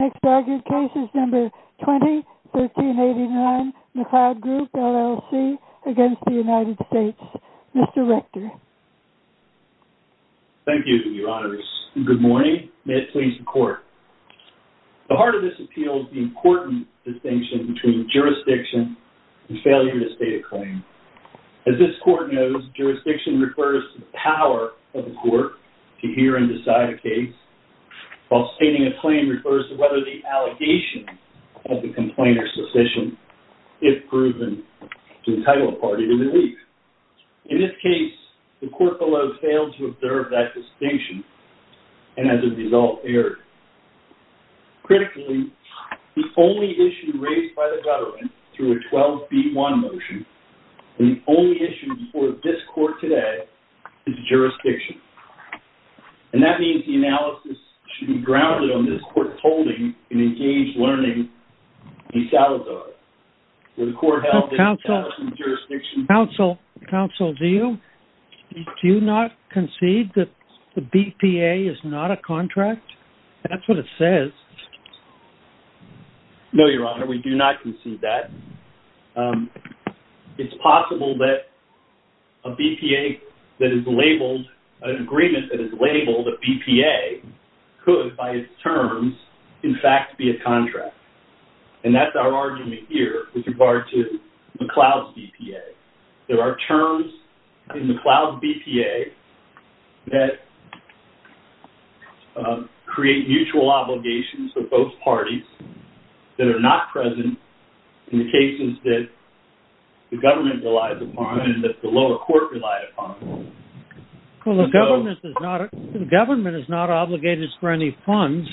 Next argued case is number 20, 1389 McLeod Group, LLC against the United States. Mr. Rector. Thank you, your honors. Good morning. May it please the court. The heart of this appeal is the important distinction between jurisdiction and failure to state a claim. As this court knows, jurisdiction refers to the power of the court to hear and decide a case, while stating a claim refers to whether the allegation of the complaint is sufficient, if proven, to entitle a party to release. In this case, the court below failed to observe that distinction, and as a result, erred. Critically, the only issue raised by the government through a 12B1 motion, and the only issue before this court today, is jurisdiction. And that means the analysis should be grounded on this court's holding in engaged learning in Salazar. Counsel, do you not concede that the BPA is not a contract? That's what it says. No, your honor, we do not concede that. It's possible that a BPA that is labeled, an agreement that is labeled a BPA, could, by its terms, in fact be a contract. And that's our argument here with regard to McLeod's BPA. There are terms in McLeod's BPA that create mutual obligations for both parties that are not present in the cases that the government relies upon, and that the lower court relied upon. Well, the government is not obligated for any funds,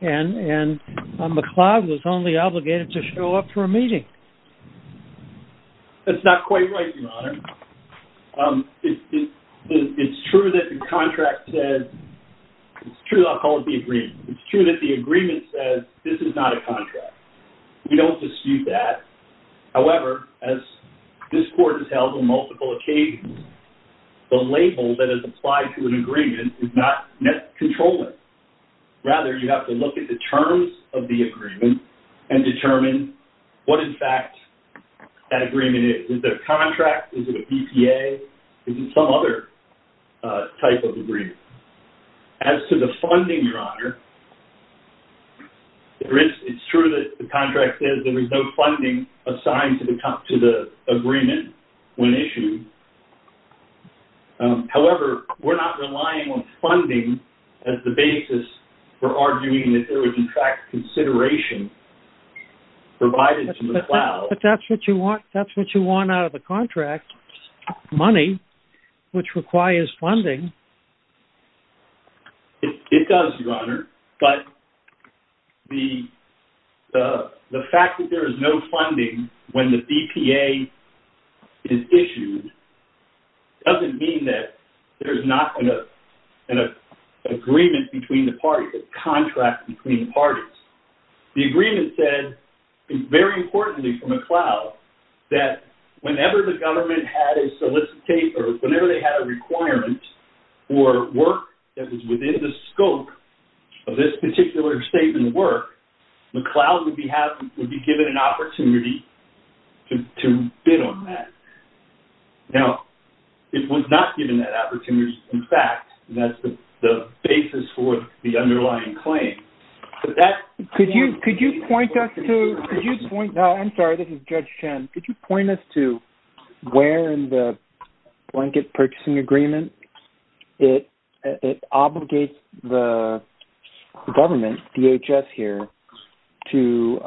and McLeod was only obligated to show up for a meeting. That's not quite right, your honor. It's true that the contract says, it's true, I'll call it the agreement. It's true that the agreement says, this is not a contract. We don't dispute that. However, as this court has held on multiple occasions, the label that is applied to an agreement is not controlling. Rather, you have to look at the terms of the agreement and determine what, in fact, that agreement is. Is it a contract? Is it a BPA? Is it some other type of agreement? As to the funding, your honor, it's true that the contract says there is no funding assigned to the agreement when issued. However, we're not relying on funding as the basis for arguing that there was, in fact, consideration provided to McLeod. But that's what you want out of the contract, money, which requires funding. It does, your honor. But the fact that there is no funding when the BPA is issued doesn't mean that there's not an agreement between the parties, a contract between the parties. The agreement said, very importantly for McLeod, that whenever the government had a solicitate or whenever they had a requirement for work that was within the scope of this particular statement of work, McLeod would be given an opportunity to bid on that. Now, it was not given that opportunity, in fact. That's the basis for the underlying claim. Could you point us to where in the blanket purchasing agreement it obligates the government, DHS here, to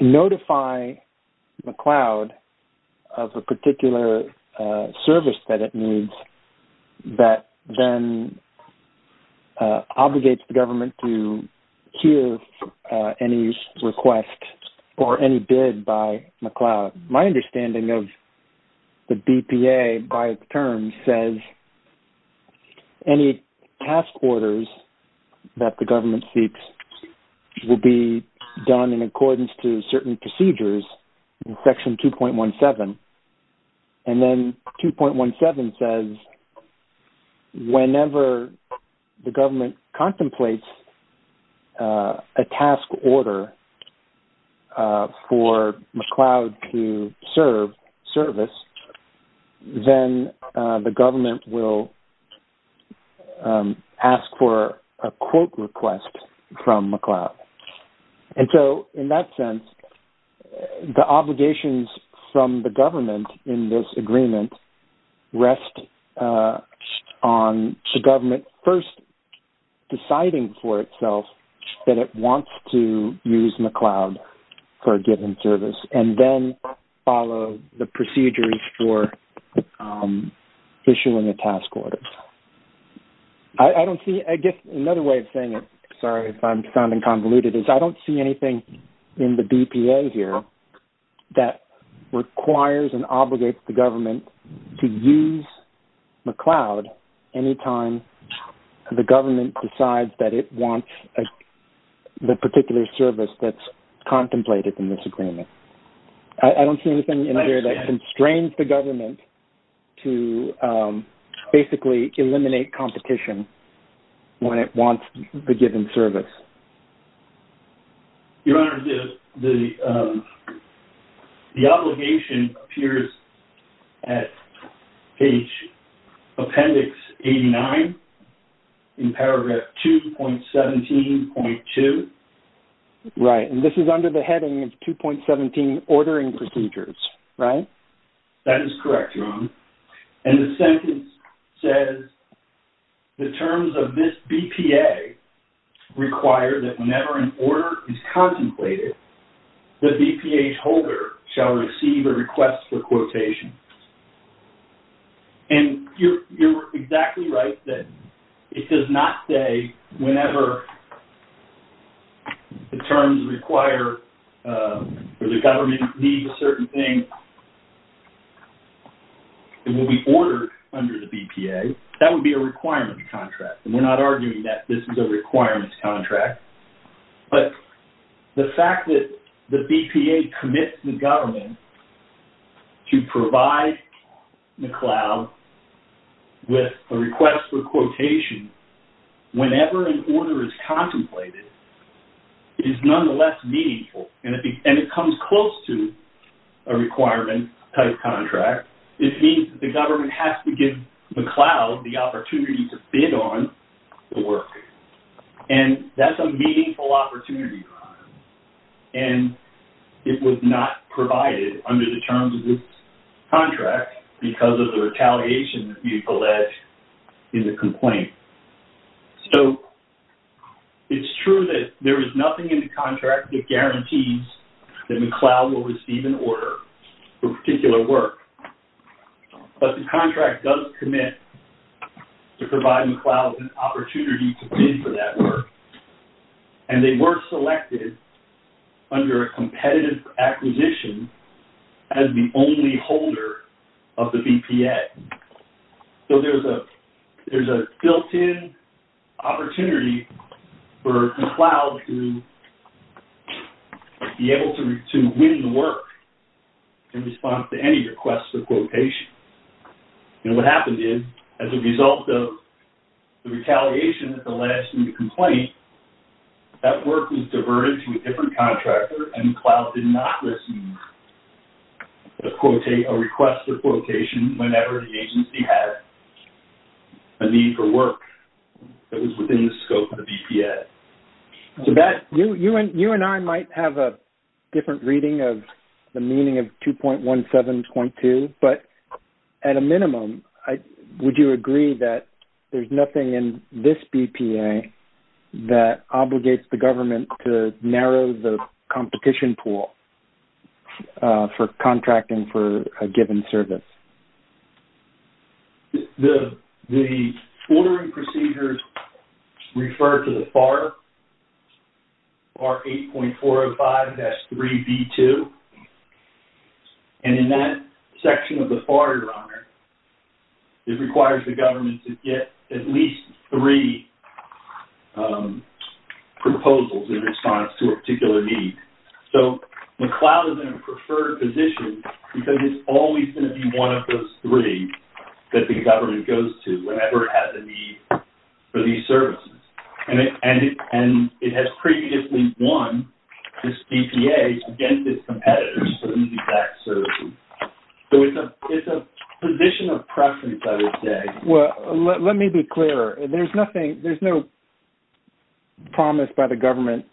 notify McLeod of a particular service that it needs that then obligates the government to hear any request or any bid by McLeod? My understanding of the BPA by terms says any task orders that the government seeks will be done in accordance to certain procedures in Section 2.17. And then 2.17 says whenever the government contemplates a task order for McLeod to serve service, then the government will ask for a quote request from McLeod. And so, in that sense, the obligations from the government in this agreement rest on the government first deciding for itself that it wants to use McLeod for a given service and then follow the procedures for issuing a task order. I guess another way of saying it, sorry if I'm sounding convoluted, is I don't see anything in the BPA here that requires and obligates the government to use McLeod anytime the government decides that it wants the particular service that's contemplated in this agreement. I don't see anything in here that constrains the government to basically eliminate competition when it wants a given service. Your Honor, the obligation appears at page Appendix 89 in paragraph 2.17.2. Right, and this is under the heading of 2.17 ordering procedures, right? That is correct, Your Honor. And the sentence says the terms of this BPA require that whenever an order is contemplated, the BPA holder shall receive a request for quotation. And you're exactly right that it does not say whenever the terms require or the government needs a certain thing, it will be ordered under the BPA. That would be a requirement contract. And we're not arguing that this is a requirement contract. But the fact that the BPA commits the government to provide McLeod with a request for quotation whenever an order is contemplated is nonetheless meaningful. And it comes close to a requirement type contract. It means that the government has to give McLeod the opportunity to bid on the work. And that's a meaningful opportunity, Your Honor. And it was not provided under the terms of this contract because of the retaliation that you've alleged in the complaint. So, it's true that there is nothing in the contract that guarantees that McLeod will receive an order for a particular work. But the contract does commit to provide McLeod an opportunity to bid for that work. And they were selected under a competitive acquisition as the only holder of the BPA. So, there's a built-in opportunity for McLeod to be able to win the work in response to any request for quotation. And what happened is, as a result of the retaliation that's alleged in the complaint, that work was diverted to a different contractor and McLeod did not receive a request for quotation whenever the agency had a need for work that was within the scope of the BPA. You and I might have a different reading of the meaning of 2.17.2, but at a minimum, would you agree that there's nothing in this BPA that obligates the government to narrow the competition pool for contracting for a given service? The ordering procedures refer to the FAR, R8.405-3B2. And in that section of the FAR, it requires the government to get at least three proposals in response to a particular need. So, McLeod is in a preferred position because it's always going to be one of those three that the government goes to whenever it has a need for these services. And it has previously won this BPA against its competitors for these exact services. So, it's a position of preference, I would say. Well, let me be clear. There's nothing-there's no promise by the government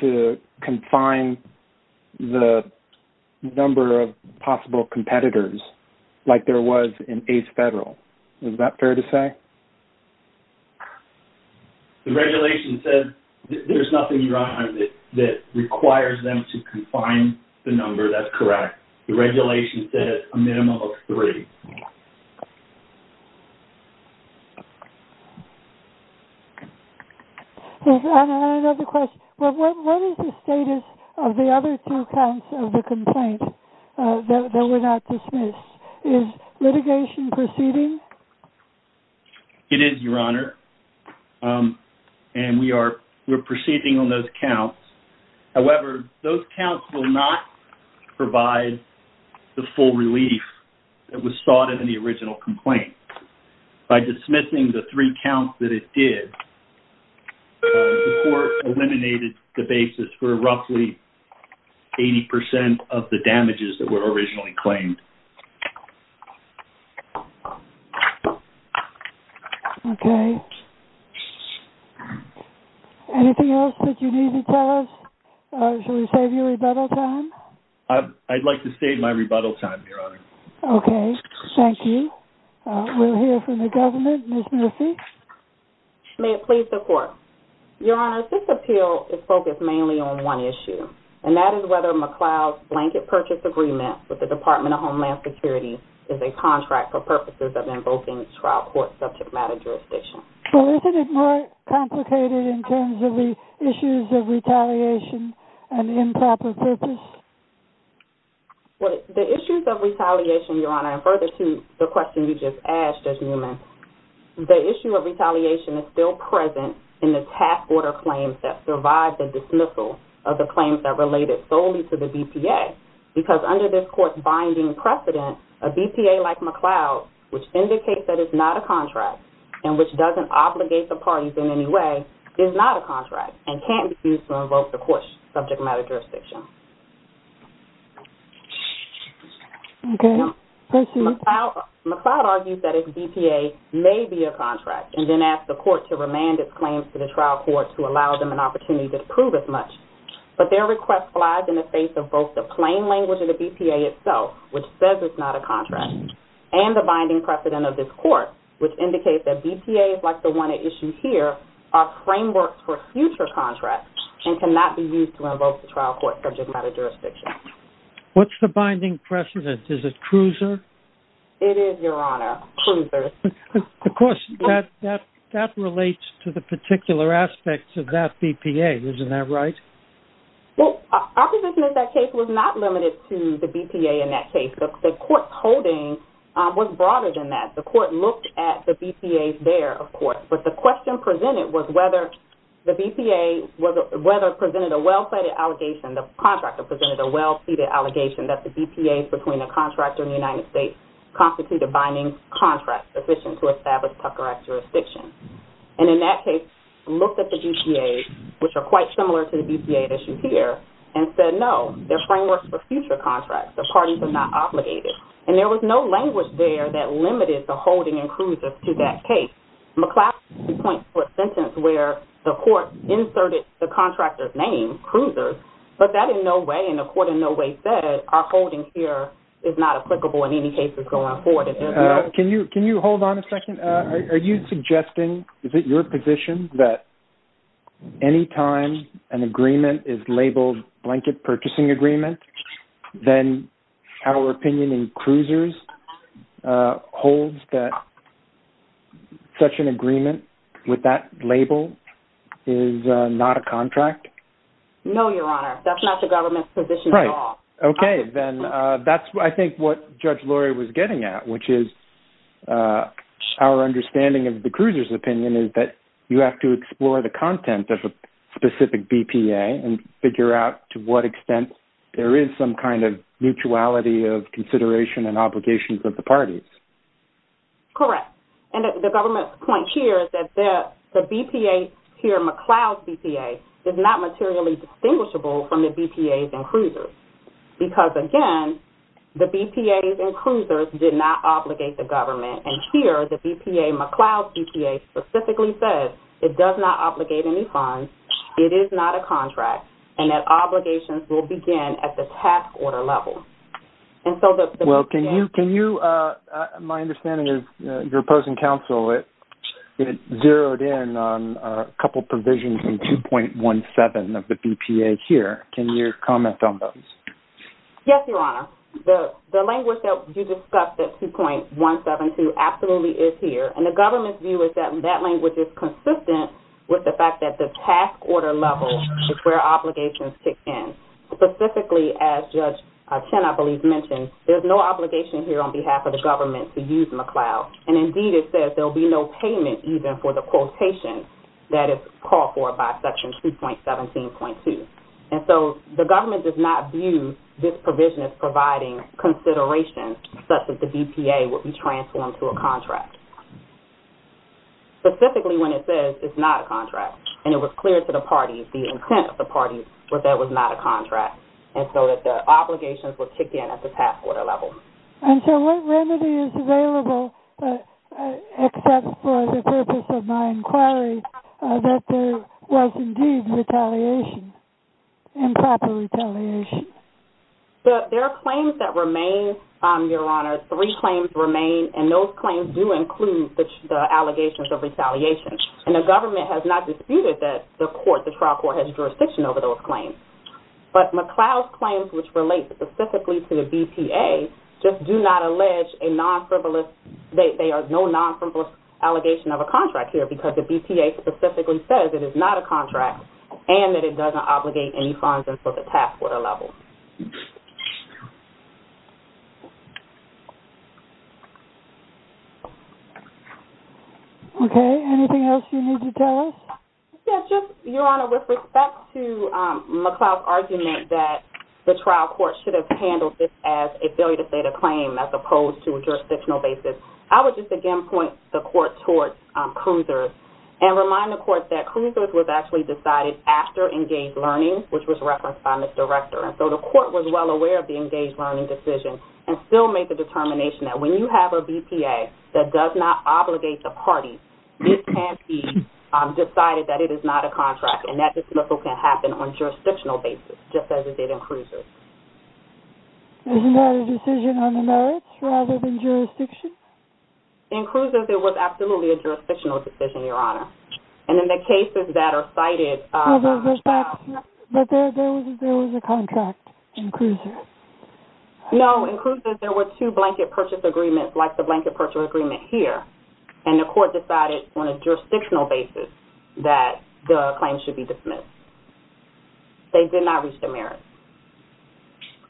to confine the number of possible competitors like there was in ACE Federal. Is that fair to say? The regulation says there's nothing, Ron, that requires them to confine the number. That's correct. The regulation said a minimum of three. Ron, I have another question. What is the status of the other two counts of the complaint that were not dismissed? Is litigation proceeding? It is, Your Honor. And we are proceeding on those counts. However, those counts will not provide the full relief that was thought of in the original complaint. By dismissing the three counts that it did, the court eliminated the basis for roughly 80% of the damages that were originally claimed. Okay. Anything else that you need to tell us? Should we save you rebuttal time? I'd like to save my rebuttal time, Your Honor. Okay. Thank you. We'll hear from the government. Ms. Murphy? May it please the Court. Your Honor, this appeal is focused mainly on one issue, and that is whether McLeod's blanket purchase agreement with the Department of Homeland Security is a contract for purposes of invoking trial court subject matter jurisdiction. Well, isn't it more complicated in terms of the issues of retaliation and improper purchase? Well, the issues of retaliation, Your Honor, and further to the question you just asked, Judge Newman, the issue of retaliation is still present in the task order claims that survive the dismissal of the claims that related solely to the BPA. Because under this court's binding precedent, a BPA like McLeod, which indicates that it's not a contract and which doesn't obligate the parties in any way, is not a contract and can't be used to invoke the court's subject matter jurisdiction. Okay. Thank you. McLeod argues that its BPA may be a contract and then asks the court to remand its claims to the trial court to allow them an opportunity to prove as much. But their request flies in the face of both the plain language of the BPA itself, which says it's not a contract, and the binding precedent of this court, which indicates that BPAs like the one at issue here are frameworks for future contracts and cannot be used to invoke the trial court subject matter jurisdiction. What's the binding precedent? Is it Cruiser? It is, Your Honor. Cruiser. Of course, that relates to the particular aspects of that BPA. Isn't that right? Well, our position in that case was not limited to the BPA in that case. The court's holding was broader than that. The court looked at the BPA there, of course. But the question presented was whether the BPA, whether it presented a well-pleaded allegation, the contractor presented a well-pleaded allegation that the BPAs between the contractor and the United States constitute a binding contract sufficient to establish Tucker Act jurisdiction. And in that case, looked at the BPAs, which are quite similar to the BPA at issue here, and said, no, they're frameworks for future contracts. The parties are not obligated. And there was no language there that limited the holding in Cruiser to that case. McClatchy points to a sentence where the court inserted the contractor's name, Cruiser, but that in no way and the court in no way said our holding here is not applicable in any cases going forward. Can you hold on a second? Are you suggesting, is it your position that any time an agreement is labeled blanket purchasing agreement, then our opinion in Cruiser holds that such an agreement with that label is not a contract? No, Your Honor. That's not the government's position at all. Okay. Then that's, I think, what Judge Lori was getting at, which is our understanding of the Cruiser's opinion is that you have to explore the content of a specific BPA and figure out to what extent there is some kind of mutuality of consideration and obligations of the parties. Correct. And the government's point here is that the BPA here, McCloud's BPA, is not materially distinguishable from the BPAs in Cruiser. Because, again, the BPAs in Cruiser did not obligate the government. And here, the BPA, McCloud's BPA, specifically says it does not obligate any funds, it is not a contract, and that obligations will begin at the task order level. Well, can you, my understanding is your opposing counsel, it zeroed in on a couple provisions in 2.17 of the BPA here. Can you comment on those? Yes, Your Honor. The language that you discussed at 2.172 absolutely is here. And the government's view is that that language is consistent with the fact that the task order level is where obligations kick in. Specifically, as Judge Chen, I believe, mentioned, there's no obligation here on behalf of the government to use McCloud. And, indeed, it says there will be no payment even for the quotation that is called for by Section 2.17.2. And so the government does not view this provision as providing consideration such that the BPA will be transformed to a contract. Specifically, when it says it's not a contract, and it was clear to the parties, the intent of the parties, that that was not a contract. And so that the obligations will kick in at the task order level. And so what remedy is available, except for the purpose of my inquiry, that there was, indeed, retaliation, improper retaliation? There are claims that remain, Your Honor. Three claims remain. And those claims do include the allegations of retaliation. And the government has not disputed that the court, the trial court, has jurisdiction over those claims. But McCloud's claims, which relate specifically to the BPA, just do not allege a non-frivolous, they are no non-frivolous allegation of a contract here because the BPA specifically says it is not a contract and that it doesn't obligate any funds until the task order level. Okay. Anything else you need to tell us? Yeah, just, Your Honor, with respect to McCloud's argument that the trial court should have handled this as a failure to state a claim as opposed to a jurisdictional basis, I would just again point the court towards Cruisers and remind the court that Cruisers was actually decided after engaged learning, which was referenced by Ms. Director. And so the court was well aware of the engaged learning decision and still made the determination that when you have a BPA that does not obligate the party, it can't be decided that it is not a contract and that dismissal can happen on jurisdictional basis, just as it did in Cruisers. Isn't that a decision on the merits rather than jurisdiction? In Cruisers, it was absolutely a jurisdictional decision, Your Honor. And in the cases that are cited... But there was a contract in Cruisers. No. In Cruisers, there were two blanket purchase agreements like the blanket purchase agreement here, and the court decided on a jurisdictional basis that the claim should be dismissed. They did not reach the merits.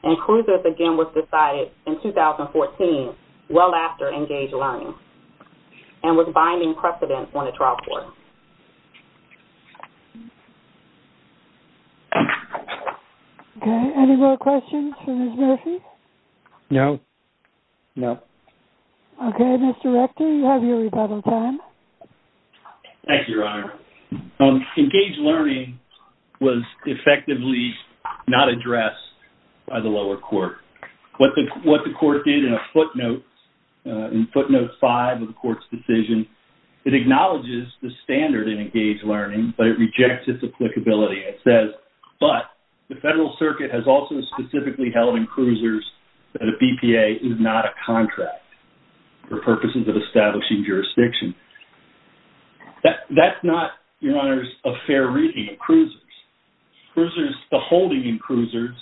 And Cruisers, again, was decided in 2014 well after engaged learning and was binding precedent on the trial court. Okay. Any more questions for Ms. Murphy? No. No. Okay. Ms. Director, you have your rebuttal time. Thank you, Your Honor. Engaged learning was effectively not addressed by the lower court. What the court did in a footnote, in footnote five of the court's decision, it acknowledges the standard in engaged learning, but it rejects its applicability. It says, but the Federal Circuit has also specifically held in Cruisers that a BPA is not a contract for purposes of establishing jurisdiction. That's not, Your Honors, a fair reading in Cruisers. Cruisers, the holding in Cruisers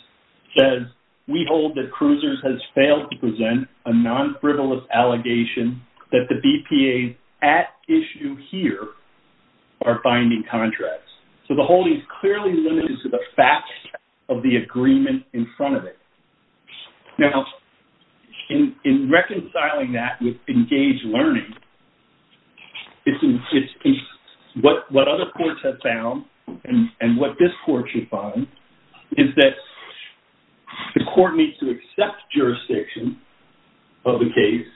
says, we hold that Cruisers has failed to present a non-frivolous allegation that the BPAs at issue here are binding contracts. So the holding is clearly limited to the facts of the agreement in front of it. Now, in reconciling that with engaged learning, what other courts have found and what this court should find is that the court needs to accept jurisdiction of the case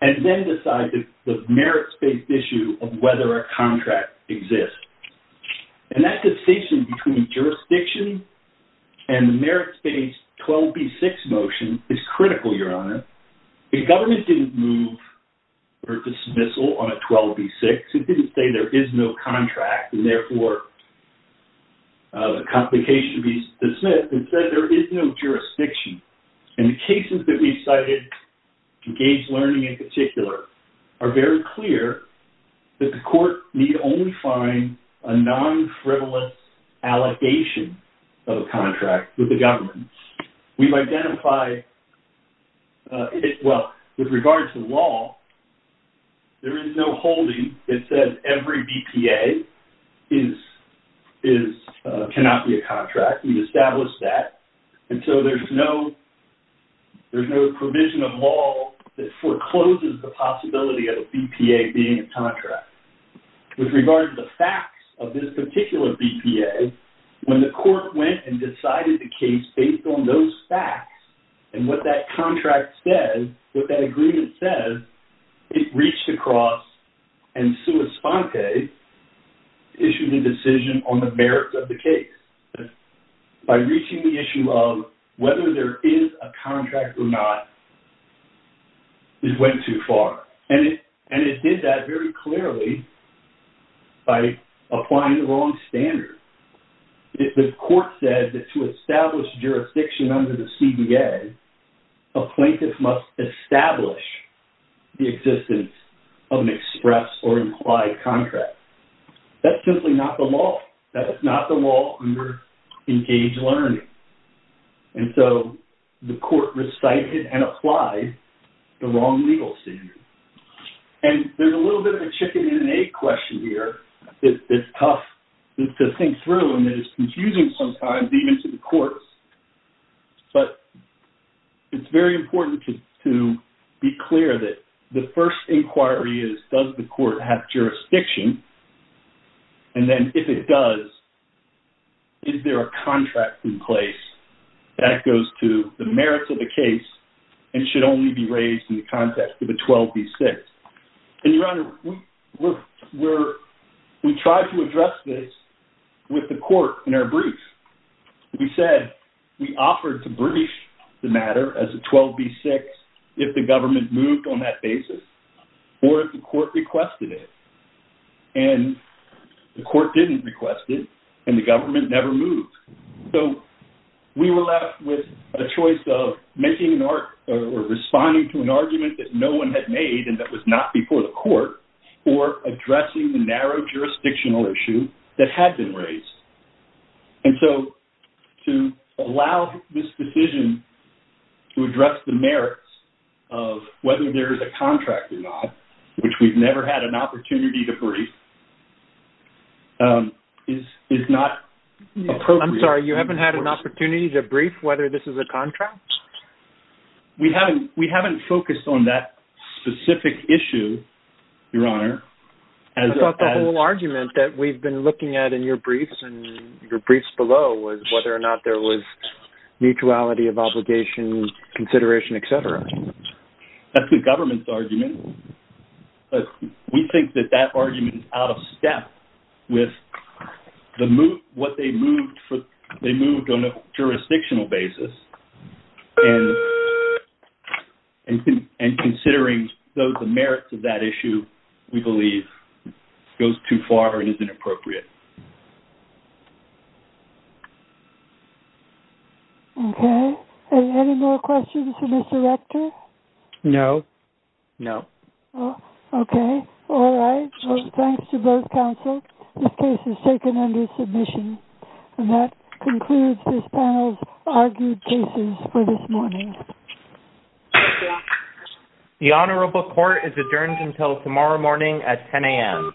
and then decide the merits-based issue of whether a contract exists. And that distinction between jurisdiction and the merits-based 12b6 motion is critical, Your Honor. The government didn't move or dismissal on a 12b6. It didn't say there is no contract and therefore the complication would be dismissed. Instead, there is no jurisdiction. And the cases that we cited, engaged learning in particular, are very clear that the court need only find a non-frivolous allegation of a contract with the government. We've identified, well, with regard to law, there is no holding that says every BPA cannot be a contract. We've established that. And so there's no provision of law that forecloses the possibility of a BPA being a contract. With regard to the facts of this particular BPA, when the court went and decided the case based on those facts and what that contract says, what that agreement says, it reached across and sua sponte issued a decision on the merits of the case. By reaching the issue of whether there is a contract or not, it went too far. And it did that very clearly by applying the wrong standard. The court said that to establish jurisdiction under the CBA, a plaintiff must establish the existence of an express or implied contract. That's simply not the law. That is not the law under engaged learning. And so the court recited and applied the wrong legal standard. And there's a little bit of a chicken and an egg question here. It's tough to think through and it is confusing sometimes even to the courts. But it's very important to be clear that the first inquiry is does the court have jurisdiction? And then if it does, is there a contract in place that goes to the merits of the case and should only be raised in the context of a 12B6? And, Your Honor, we tried to address this with the court in our brief. We said we offered to brief the matter as a 12B6 if the government moved on that basis or if the court requested it. And the court didn't request it and the government never moved. So we were left with a choice of making or responding to an argument that no one had made and that was not before the court or addressing the narrow jurisdictional issue that had been raised. And so to allow this decision to address the merits of whether there is a contract or not, which we've never had an opportunity to brief, is not appropriate. I'm sorry, you haven't had an opportunity to brief whether this is a contract? We haven't focused on that specific issue, Your Honor. I thought the whole argument that we've been looking at in your briefs and your briefs below was whether or not there was mutuality of obligation, consideration, et cetera. That's the government's argument. We think that that argument is out of step with what they moved on a jurisdictional basis and considering the merits of that issue, we believe, goes too far and is inappropriate. Okay. Any more questions for Mr. Rector? No. Okay. All right. Well, thanks to both counsel. This case is taken under submission. And that concludes this panel's argued cases for this morning. Thank you, Your Honor. The Honorable Court is adjourned until tomorrow morning at 10 a.m.